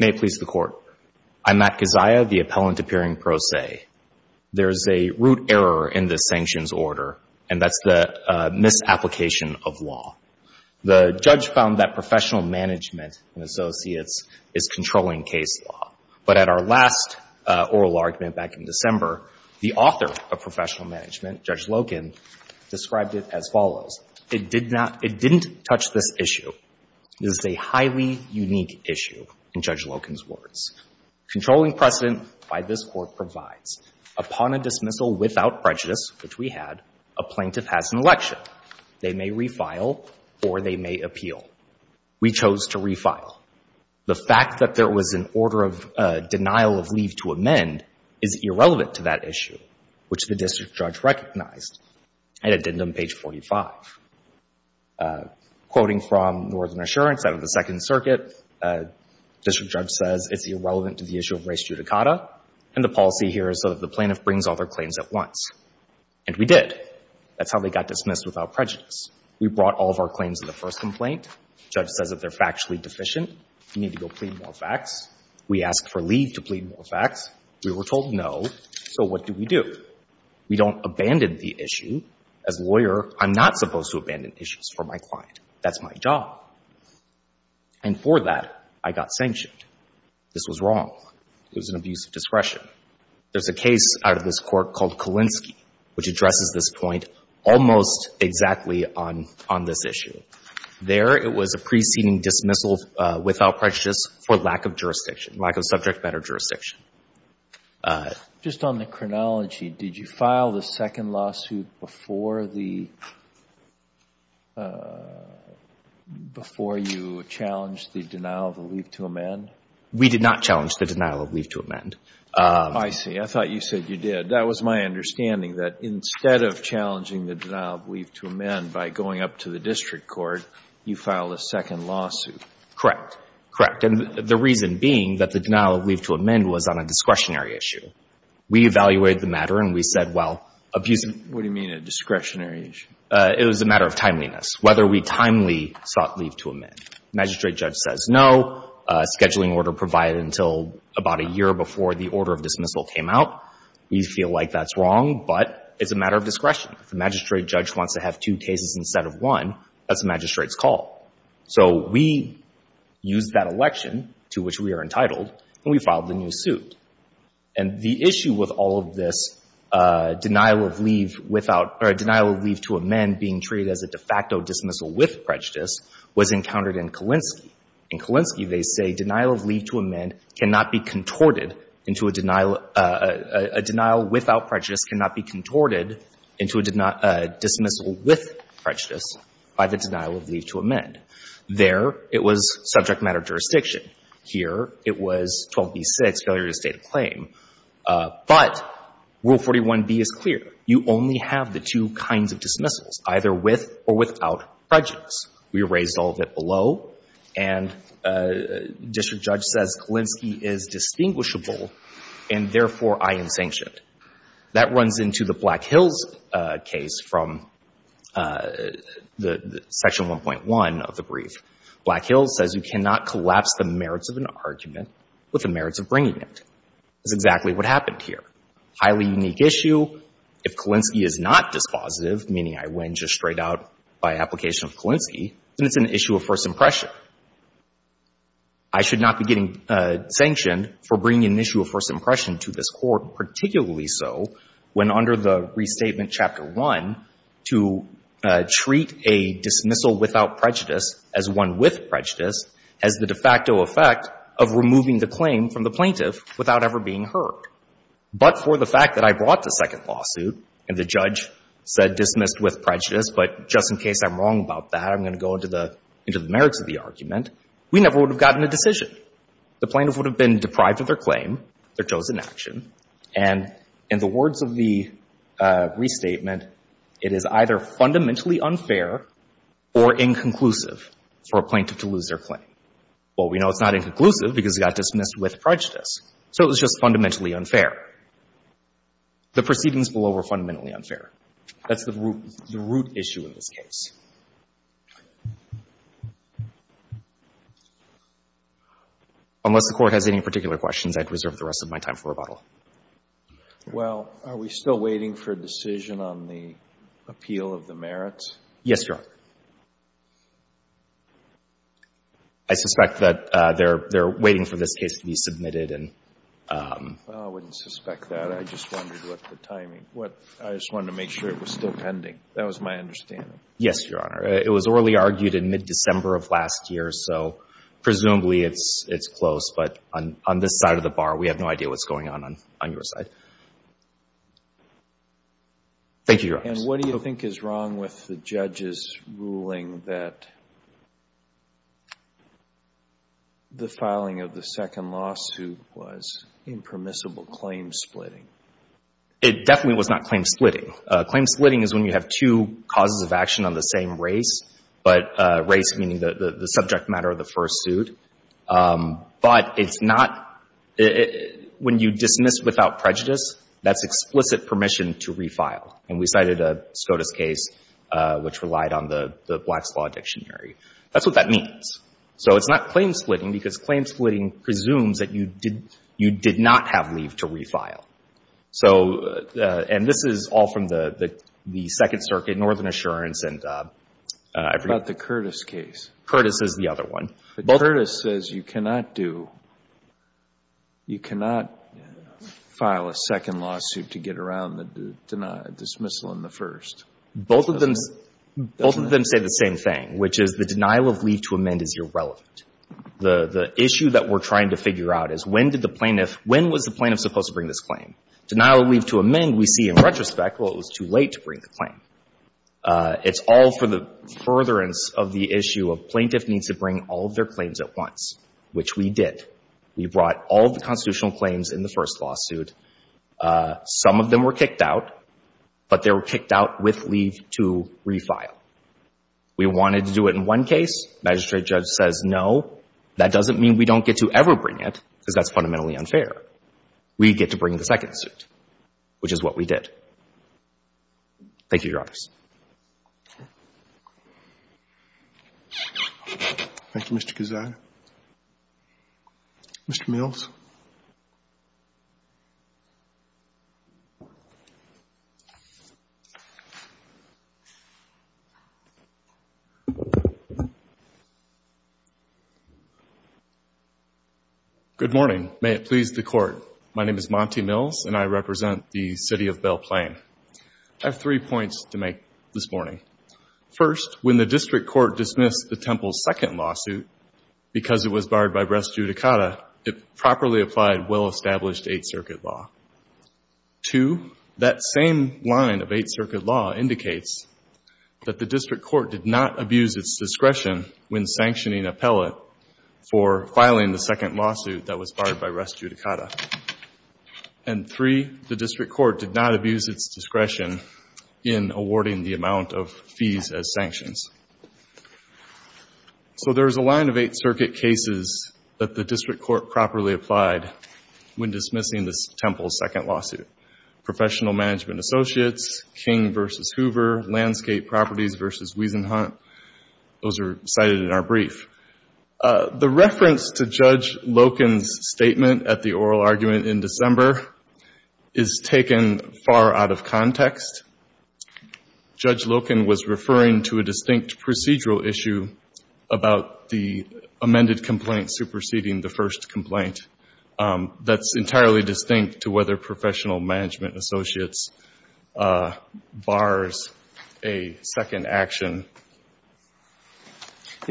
May it please the Court, I, Matt Kezhaya, the appellant appearing pro se, there is a error in the sanctions order and that's the misapplication of law. The judge found that professional management and associates is controlling case law, but at our last oral argument back in December, the author of professional management, Judge Loken, described it as follows, it did not, it didn't touch this issue, this is a highly unique issue, in Judge Loken's words. Controlling precedent by this Court provides, upon a dismissal without prejudice, which we had, a plaintiff has an election. They may refile or they may appeal. We chose to refile. The fact that there was an order of denial of leave to amend is irrelevant to that issue, which the district judge recognized at addendum page 45. Quoting from Northern Assurance out of the Second Circuit, district judge says it's irrelevant to the issue of res judicata, and the policy here is that the plaintiff brings all their claims at once. And we did. That's how they got dismissed without prejudice. We brought all of our claims in the first complaint. Judge says that they're factually deficient. We need to go plead more facts. We asked for leave to plead more facts. We were told no. So what do we do? We don't abandon the issue. As a lawyer, I'm not supposed to abandon issues for my client. That's my job. And for that, I got sanctioned. This was wrong. It was an abuse of discretion. There's a case out of this Court called Kalinsky, which addresses this point almost exactly on this issue. There, it was a preceding dismissal without prejudice for lack of jurisdiction, lack of subject matter jurisdiction. Just on the chronology, did you file the second lawsuit before the — before you challenged the denial of leave to amend? We did not challenge the denial of leave to amend. I see. I thought you said you did. That was my understanding, that instead of challenging the denial of leave to amend by going up to the district court, you filed a second lawsuit. Correct. Correct. And the reason being that the denial of leave to amend was on a discretionary issue. We evaluated the matter and we said, well, abuse of — What do you mean a discretionary issue? It was a matter of timeliness, whether we timely sought leave to amend. Magistrate judge says no. Scheduling order provided until about a year before the order of dismissal came out. We feel like that's wrong, but it's a matter of discretion. If the magistrate judge wants to have two cases instead of one, that's the magistrate's call. So we used that election, to which we are entitled, and we filed the new suit. And the issue with all of this denial of leave without — or denial of leave to amend being treated as a de facto dismissal with prejudice was encountered in Kalinsky. In Kalinsky, they say denial of leave to amend cannot be contorted into a denial — a denial without prejudice cannot be contorted into a dismissal with prejudice by the denial of leave to amend. There, it was subject matter jurisdiction. Here, it was 12b-6, failure to state a claim. But Rule 41b is clear. You only have the two kinds of dismissals, either with or without prejudice. We erased all of it below, and district judge says Kalinsky is distinguishable, and therefore, I am sanctioned. That runs into the Black Hills case from Section 1.1 of the brief. Black Hills says you cannot collapse the merits of an argument with the merits of bringing it. That's exactly what happened here. Highly unique issue. If Kalinsky is not dispositive, meaning I win just straight out by application of Kalinsky, then it's an issue of first impression. I should not be getting sanctioned for bringing an issue of first impression to this Court, particularly so when, under the Restatement Chapter 1, to treat a dismissal without prejudice as one with prejudice has the de facto effect of removing the claim from the plaintiff without ever being heard. But for the fact that I brought the second lawsuit and the judge said dismissed with prejudice, but just in case I'm wrong about that, I'm going to go into the merits of the argument, we never would have gotten a decision. The plaintiff would have been deprived of their claim, their chosen action, and in the words of the restatement, it is either fundamentally unfair or inconclusive for a plaintiff to lose their claim. Well, we know it's not inconclusive because it got dismissed with prejudice. So it was just fundamentally unfair. The proceedings below were fundamentally unfair. That's the root issue in this case. Unless the Court has any particular questions, I'd reserve the rest of my time for rebuttal. Well, are we still waiting for a decision on the appeal of the merits? Yes, Your Honor. I suspect that they're waiting for this case to be submitted. Well, I wouldn't suspect that. I just wondered what the timing. I just wanted to make sure it was still pending. That was my understanding. Yes, Your Honor. It was orally argued in mid-December of last year, so presumably it's close. But on this side of the bar, we have no idea what's going on on your side. Thank you, Your Honor. And what do you think is wrong with the judge's ruling that the filing of the second lawsuit was impermissible claim splitting? It definitely was not claim splitting. Claim splitting is when you have two causes of action on the same race, but race meaning the subject matter of the first suit. But it's not — when you dismiss without prejudice, that's explicit permission to refile. And we cited a SCOTUS case which relied on the Black's Law Dictionary. That's what that means. So it's not claim splitting because claim splitting presumes that you did not have leave to refile. So — and this is all from the Second Circuit, Northern Assurance, and — What about the Curtis case? Curtis is the other one. But Curtis says you cannot do — you cannot file a second lawsuit to get around the denial, dismissal in the first. Both of them — both of them say the same thing, which is the denial of leave to amend is irrelevant. The issue that we're trying to figure out is when did the plaintiff — when was the plaintiff supposed to bring this claim? Denial of leave to amend, we see in retrospect, well, it was too late to bring the claim. It's all for the furtherance of the issue of plaintiff needs to bring all of their claims at once, which we did. We brought all of the constitutional claims in the first lawsuit. Some of them were kicked out, but they were kicked out with leave to refile. We wanted to do it in one case. Magistrate judge says no. That doesn't mean we don't get to ever bring it, because that's fundamentally unfair. We get to bring the second suit, which is what we did. Thank you, Your Honors. Thank you, Mr. Guzzara. Mr. Mills. Good morning. May it please the Court. My name is Monty Mills, and I represent the city of Belle Plaine. I have three points to make this morning. First, when the district court dismissed the temple's second lawsuit, because it properly applied well-established Eighth Circuit law. Two, that same line of Eighth Circuit law indicates that the district court did not abuse its discretion when sanctioning appellate for filing the second lawsuit that was barred by res judicata. And three, the district court did not abuse its discretion in awarding the amount of fees as sanctions. So there's a line of Eighth Circuit cases that the district court properly applied when dismissing this temple's second lawsuit. Professional Management Associates, King v. Hoover, Landscape Properties v. Wiesenhunt, those are cited in our brief. The reference to Judge Loken's statement at the oral argument in December is taken far out of context. Judge Loken was referring to a distinct procedural issue about the amended complaint superseding the first complaint that's entirely distinct to whether Professional Management Associates bars a second action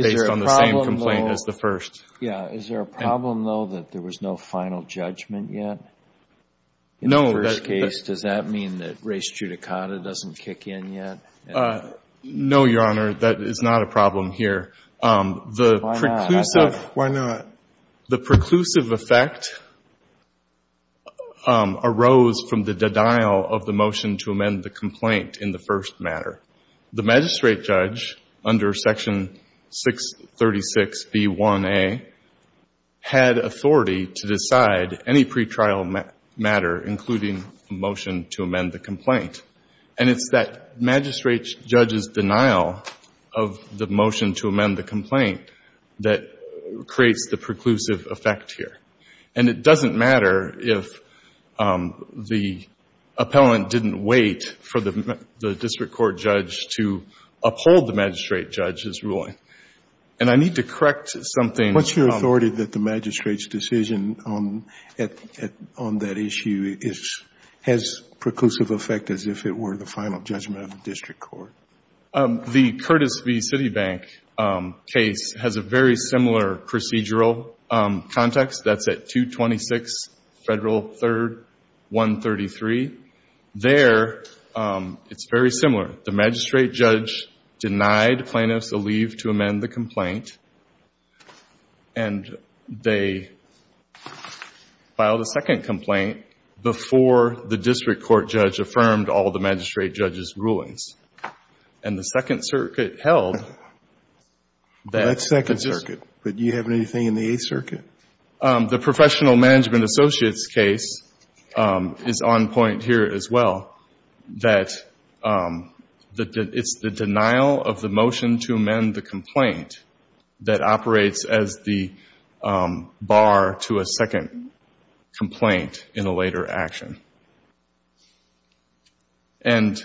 based on the same complaint as the first. Yeah. Is there a problem, though, that there was no final judgment yet? No. In the first case, does that mean that res judicata doesn't kick in yet? No, Your Honor. That is not a problem here. Why not? The preclusive effect arose from the denial of the motion to amend the complaint in the first matter. The magistrate judge under Section 636b1a had authority to decide any pretrial matter, including a motion to amend the complaint. And it's that magistrate judge's denial of the motion to amend the complaint that creates the preclusive effect here. And it doesn't matter if the appellant didn't wait for the district court judge to uphold the magistrate judge's ruling. And I need to correct something. What's your authority that the magistrate's decision on that issue has preclusive effect as if it were the final judgment of the district court? The Curtis v. Citibank case has a very similar procedural context. That's at 226 Federal 3rd, 133. There, it's very similar. The magistrate judge denied plaintiffs the leave to amend the complaint, and they filed a second complaint before the district court judge affirmed all of the magistrate judge's rulings. And the Second Circuit held that. That's Second Circuit. But do you have anything in the Eighth Circuit? The Professional Management Associates case is on point here as well, that it's the denial of the motion to amend the complaint that operates as the bar to a second complaint in a later action. And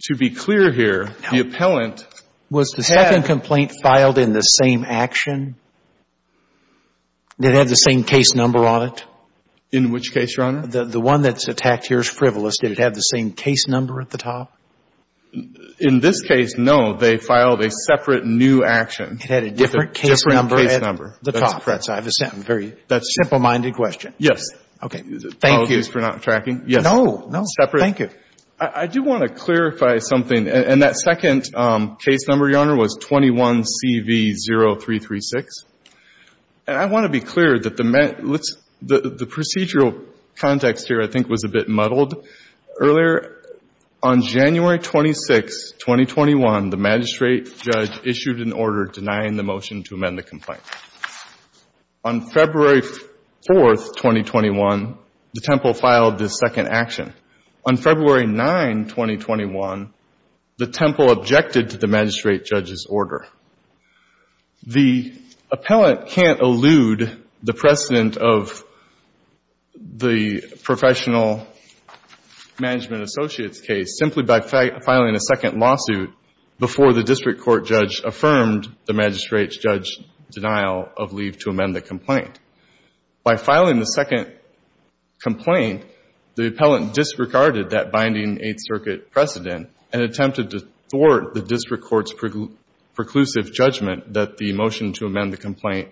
to be clear here, the appellant had the same case number on it. Was the second complaint filed in the same action? In which case, Your Honor? The one that's attacked here is frivolous. Did it have the same case number at the top? In this case, no. They filed a separate new action. It had a different case number at the top. I have a simple-minded question. Yes. Okay. Thank you. Apologies for not tracking. No, no. Thank you. I do want to clarify something. And that second case number, Your Honor, was 21CV0336. And I want to be clear that the procedural context here, I think, was a bit muddled. Earlier, on January 26, 2021, the magistrate judge issued an order denying the motion to amend the complaint. On February 4, 2021, the temple filed this second action. On February 9, 2021, the temple objected to the magistrate judge's order. The appellant can't allude the precedent of the professional management associates case simply by filing a second lawsuit before the district court judge affirmed the magistrate judge's denial of leave to amend the complaint. By filing the second complaint, the appellant disregarded that binding Eighth Circuit precedent and attempted to thwart the district court's preclusive judgment that the motion to amend the complaint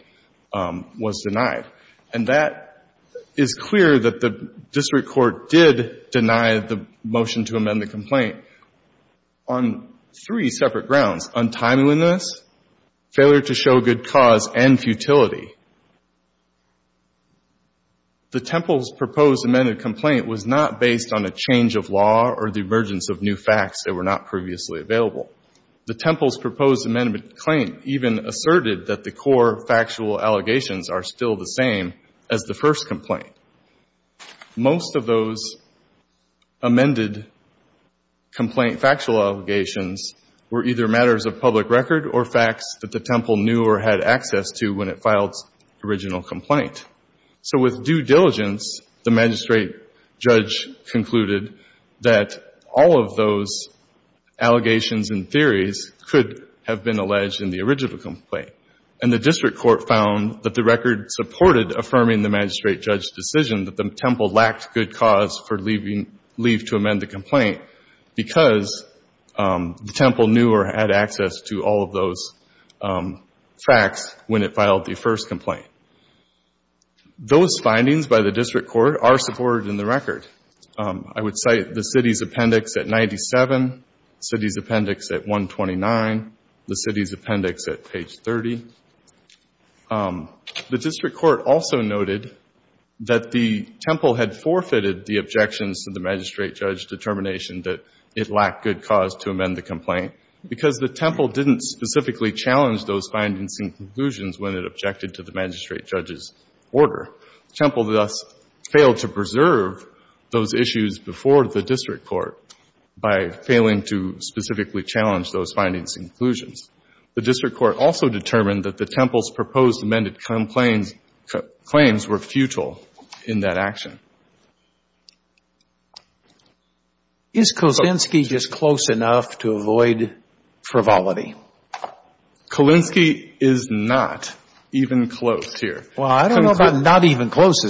was denied. And that is clear that the district court did deny the motion to amend the complaint on three separate grounds, untimeliness, failure to show good cause, and futility. The temple's proposed amended complaint was not based on a change of law or the emergence of new facts that were not previously available. The temple's proposed amendment claim even asserted that the core factual allegations are still the same as the first complaint. Most of those amended complaint factual allegations were either matters of public record or facts that the temple knew or had access to when it filed the original complaint. So with due diligence, the magistrate judge concluded that all of those allegations and theories could have been alleged in the original complaint. And the district court found that the record supported affirming the magistrate judge's decision that the temple lacked good cause for leave to amend the complaint because the temple knew or had access to all of those facts when it filed the first complaint. Those findings by the district court are supported in the record. I would cite the city's appendix at 97, the city's appendix at 129, the city's appendix at page 30. The district court also noted that the temple had forfeited the objections to the magistrate judge's determination that it lacked good cause to amend the complaint because the temple didn't specifically challenge those findings and conclusions when it objected to the magistrate judge's order. The temple thus failed to preserve those issues before the district court by failing to specifically challenge those findings and conclusions. The district court also determined that the temple's proposed amended claims were futile in that action. Is Kulinski just close enough to avoid frivolity? Kulinski is not even close here. Well, I don't know about not even close.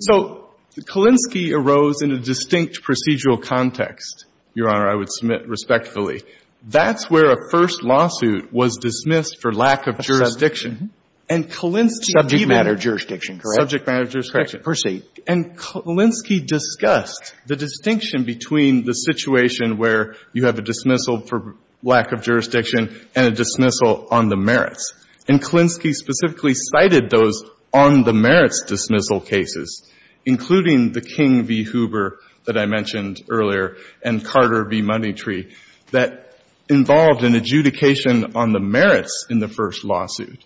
So Kulinski arose in a distinct procedural context, Your Honor. I would submit respectfully. That's where a first lawsuit was dismissed for lack of jurisdiction and Kulinski Subject matter jurisdiction, correct? Subject matter jurisdiction. Proceed. And Kulinski discussed the distinction between the situation where you have a dismissal for lack of jurisdiction and a dismissal on the merits. And Kulinski specifically cited those on the merits dismissal cases, including the King v. Hoover that I mentioned earlier and Carter v. Moneytree, that involved an adjudication on the merits in the first lawsuit.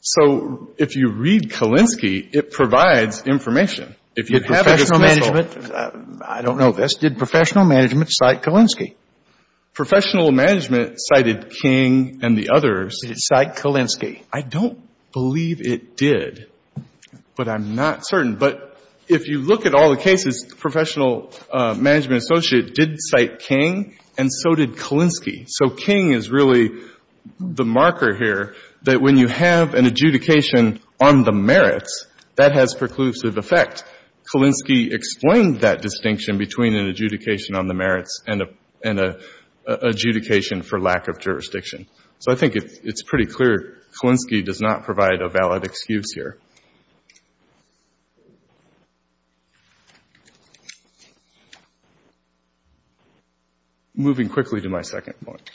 So if you read Kulinski, it provides information. If you have a dismissal. But professional management, I don't know. Did professional management cite Kulinski? Professional management cited King and the others. Did it cite Kulinski? I don't believe it did, but I'm not certain. But if you look at all the cases, the professional management associate did cite King and so did Kulinski. So King is really the marker here that when you have an adjudication on the merits, that has preclusive effect. Kulinski explained that distinction between an adjudication on the merits and an adjudication for lack of jurisdiction. So I think it's pretty clear Kulinski does not provide a valid excuse here. Moving quickly to my second point.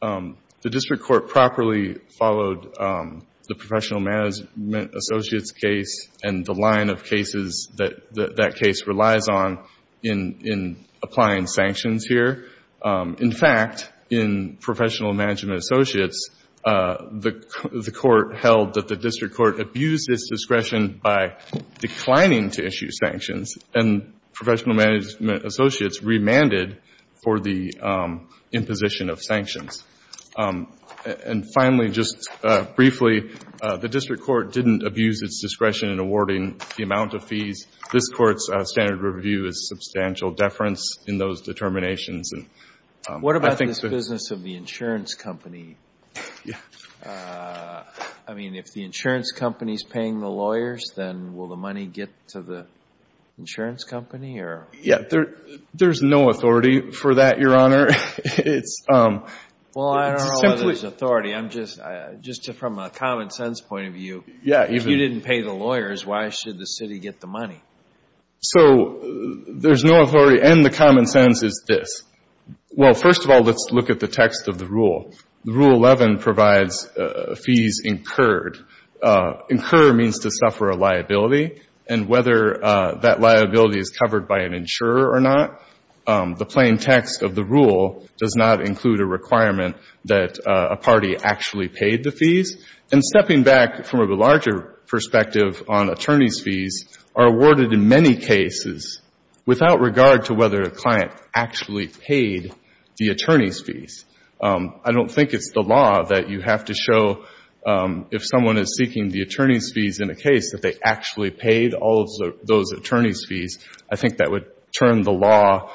The district court properly followed the professional management associates case and the line of cases that that case relies on in applying sanctions here. In fact, in professional management associates, the court held that the district court abused its discretion by declining to issue sanctions and professional management associates remanded for the imposition of sanctions. And finally, just briefly, the district court didn't abuse its discretion in awarding the amount of fees. This Court's standard review is substantial deference in those determinations. And I think the ---- What about this business of the insurance company? I mean, if the insurance company is paying the lawyers, then will the money get to the insurance company or ---- Yeah. There's no authority for that, Your Honor. It's simply ---- Well, I don't know whether there's authority. I'm just, from a common sense point of view, if you didn't pay the lawyers, why should the city get the money? So there's no authority. And the common sense is this. Well, first of all, let's look at the text of the rule. Rule 11 provides fees incurred. Incur means to suffer a liability. And whether that liability is covered by an insurer or not, the plain text of the rule does not include a requirement that a party actually paid the fees. And stepping back from a larger perspective on attorney's fees are awarded in many cases without regard to whether a client actually paid the attorney's fees. I don't think it's the law that you have to show if someone is seeking the attorney's fees in a case that they actually paid all of those attorney's fees. I think that would turn the law,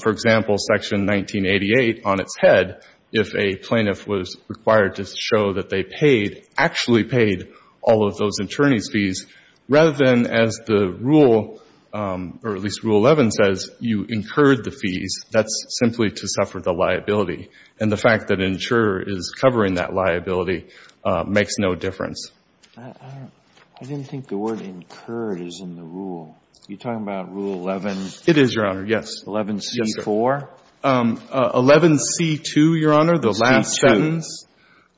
for example, Section 1988, on its head if a plaintiff was required to show that they paid, actually paid, all of those attorney's fees, rather than as the rule, or at least Rule 11 says, you incurred the fees. That's simply to suffer the liability. And the fact that an insurer is covering that liability makes no difference. I didn't think the word incurred is in the rule. Are you talking about Rule 11? It is, Your Honor, yes. 11C4? 11C2, Your Honor, the last sentence.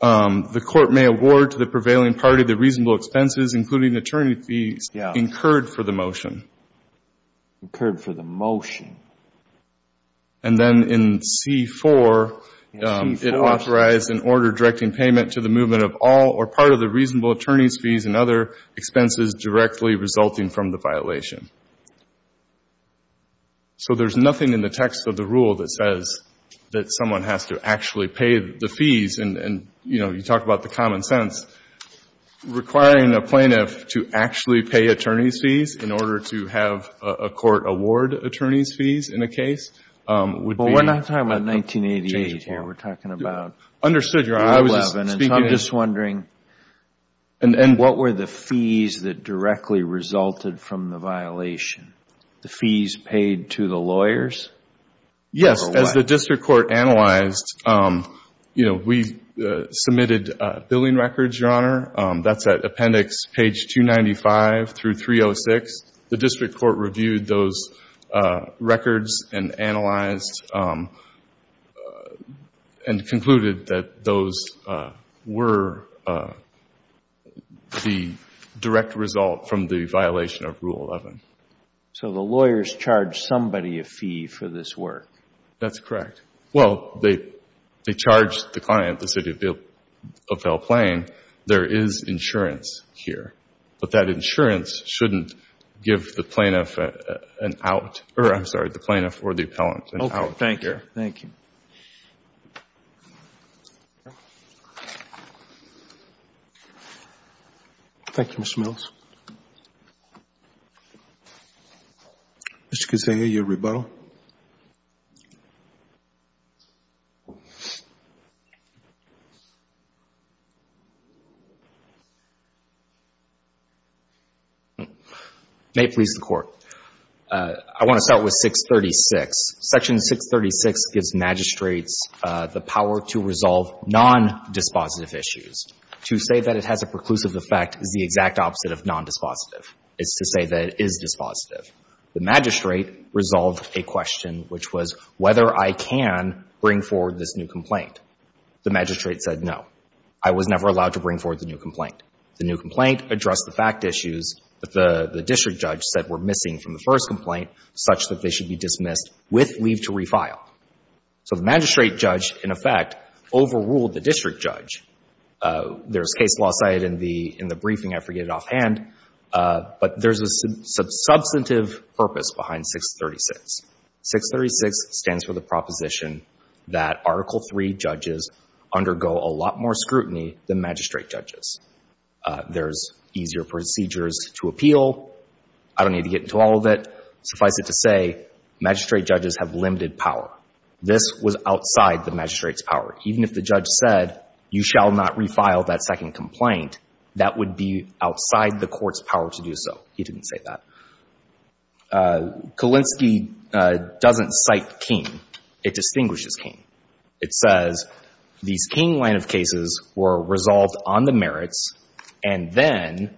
11C2. The court may award to the prevailing party the reasonable expenses, including attorney fees, incurred for the motion. Incurred for the motion. And then in C4, it authorized an order directing payment to the movement of all or part of the reasonable attorney's fees and other expenses directly resulting from the violation. So there's nothing in the text of the rule that says that someone has to actually pay the fees, and, you know, you talk about the common sense, requiring a plaintiff to actually pay attorney's fees in order to have a court award attorney's fees in a case would be Well, we're not talking about 1988 here. We're talking about Rule 11. Understood, Your Honor, I was just speaking And so I'm just wondering, what were the fees that directly resulted from the violation? The fees paid to the lawyers, or what? As the district court analyzed, you know, we submitted billing records, Your Honor. That's at appendix page 295 through 306. The district court reviewed those records and analyzed and concluded that those were the direct result from the violation of Rule 11. So the lawyers charged somebody a fee for this work? That's correct. Well, they charged the client, the city of Belle Plain, there is insurance here. But that insurance shouldn't give the plaintiff an out. I'm sorry, the plaintiff or the appellant an out. Okay, thank you. Thank you. Thank you, Mr. Mills. Mr. Kuzma, your rebuttal. Thank you. May it please the Court. I want to start with 636. Section 636 gives magistrates the power to resolve non-dispositive issues. To say that it has a preclusive effect is the exact opposite of non-dispositive. It's to say that it is dispositive. The magistrate resolved a question, which was whether I can bring forward this new complaint. The magistrate said no. I was never allowed to bring forward the new complaint. The new complaint addressed the fact issues that the district judge said were missing from the first complaint, such that they should be dismissed with leave to refile. So the magistrate judge, in effect, overruled the district judge. There's case law cited in the briefing. I forget it offhand. But there's a substantive purpose behind 636. 636 stands for the proposition that Article III judges undergo a lot more scrutiny than magistrate judges. There's easier procedures to appeal. I don't need to get into all of it. Suffice it to say, magistrate judges have limited power. This was outside the magistrate's power. Even if the judge said, you shall not refile that second complaint, that would be outside the court's power to do so. He didn't say that. Kalinsky doesn't cite King. It distinguishes King. It says these King line of cases were resolved on the merits, and then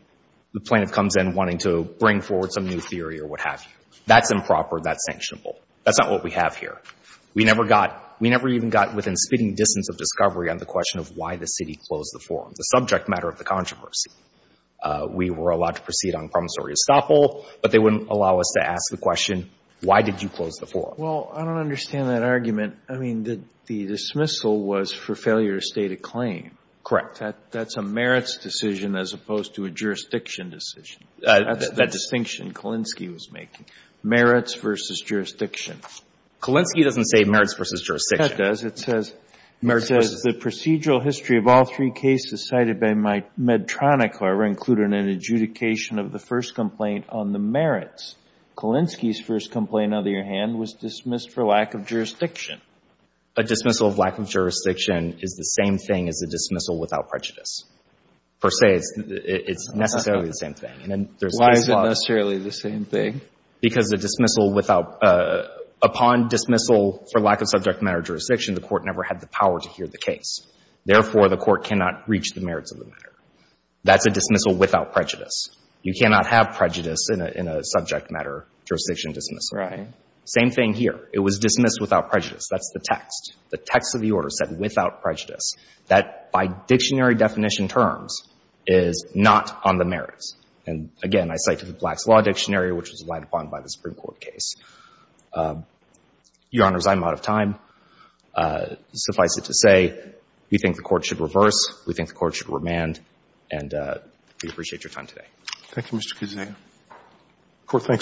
the plaintiff comes in wanting to bring forward some new theory or what have you. That's improper. That's sanctionable. That's not what we have here. We never got, we never even got within spitting distance of discovery on the question of why the city closed the forum. It's a subject matter of the controversy. We were allowed to proceed on promissory estoppel, but they wouldn't allow us to ask the question, why did you close the forum? Well, I don't understand that argument. I mean, the dismissal was for failure to state a claim. Correct. That's a merits decision as opposed to a jurisdiction decision. That's the distinction Kalinsky was making. Merits versus jurisdiction. Kalinsky doesn't say merits versus jurisdiction. That does. It says the procedural history of all three cases cited by Medtronic, however, included an adjudication of the first complaint on the merits. Kalinsky's first complaint, on the other hand, was dismissed for lack of jurisdiction. A dismissal of lack of jurisdiction is the same thing as a dismissal without prejudice. Per se, it's necessarily the same thing. Why is it necessarily the same thing? Because the dismissal without — upon dismissal for lack of subject matter or jurisdiction, the court never had the power to hear the case. Therefore, the court cannot reach the merits of the matter. That's a dismissal without prejudice. You cannot have prejudice in a subject matter jurisdiction dismissal. Right. Same thing here. It was dismissed without prejudice. That's the text. The text of the order said without prejudice. That, by dictionary definition terms, is not on the merits. And again, I cite the Black's Law Dictionary, which was relied upon by the Supreme Court case. Your Honors, I'm out of time. Suffice it to say, we think the Court should reverse. We think the Court should remand. And we appreciate your time today. Thank you, Mr. Kuznick. The Court thanks you.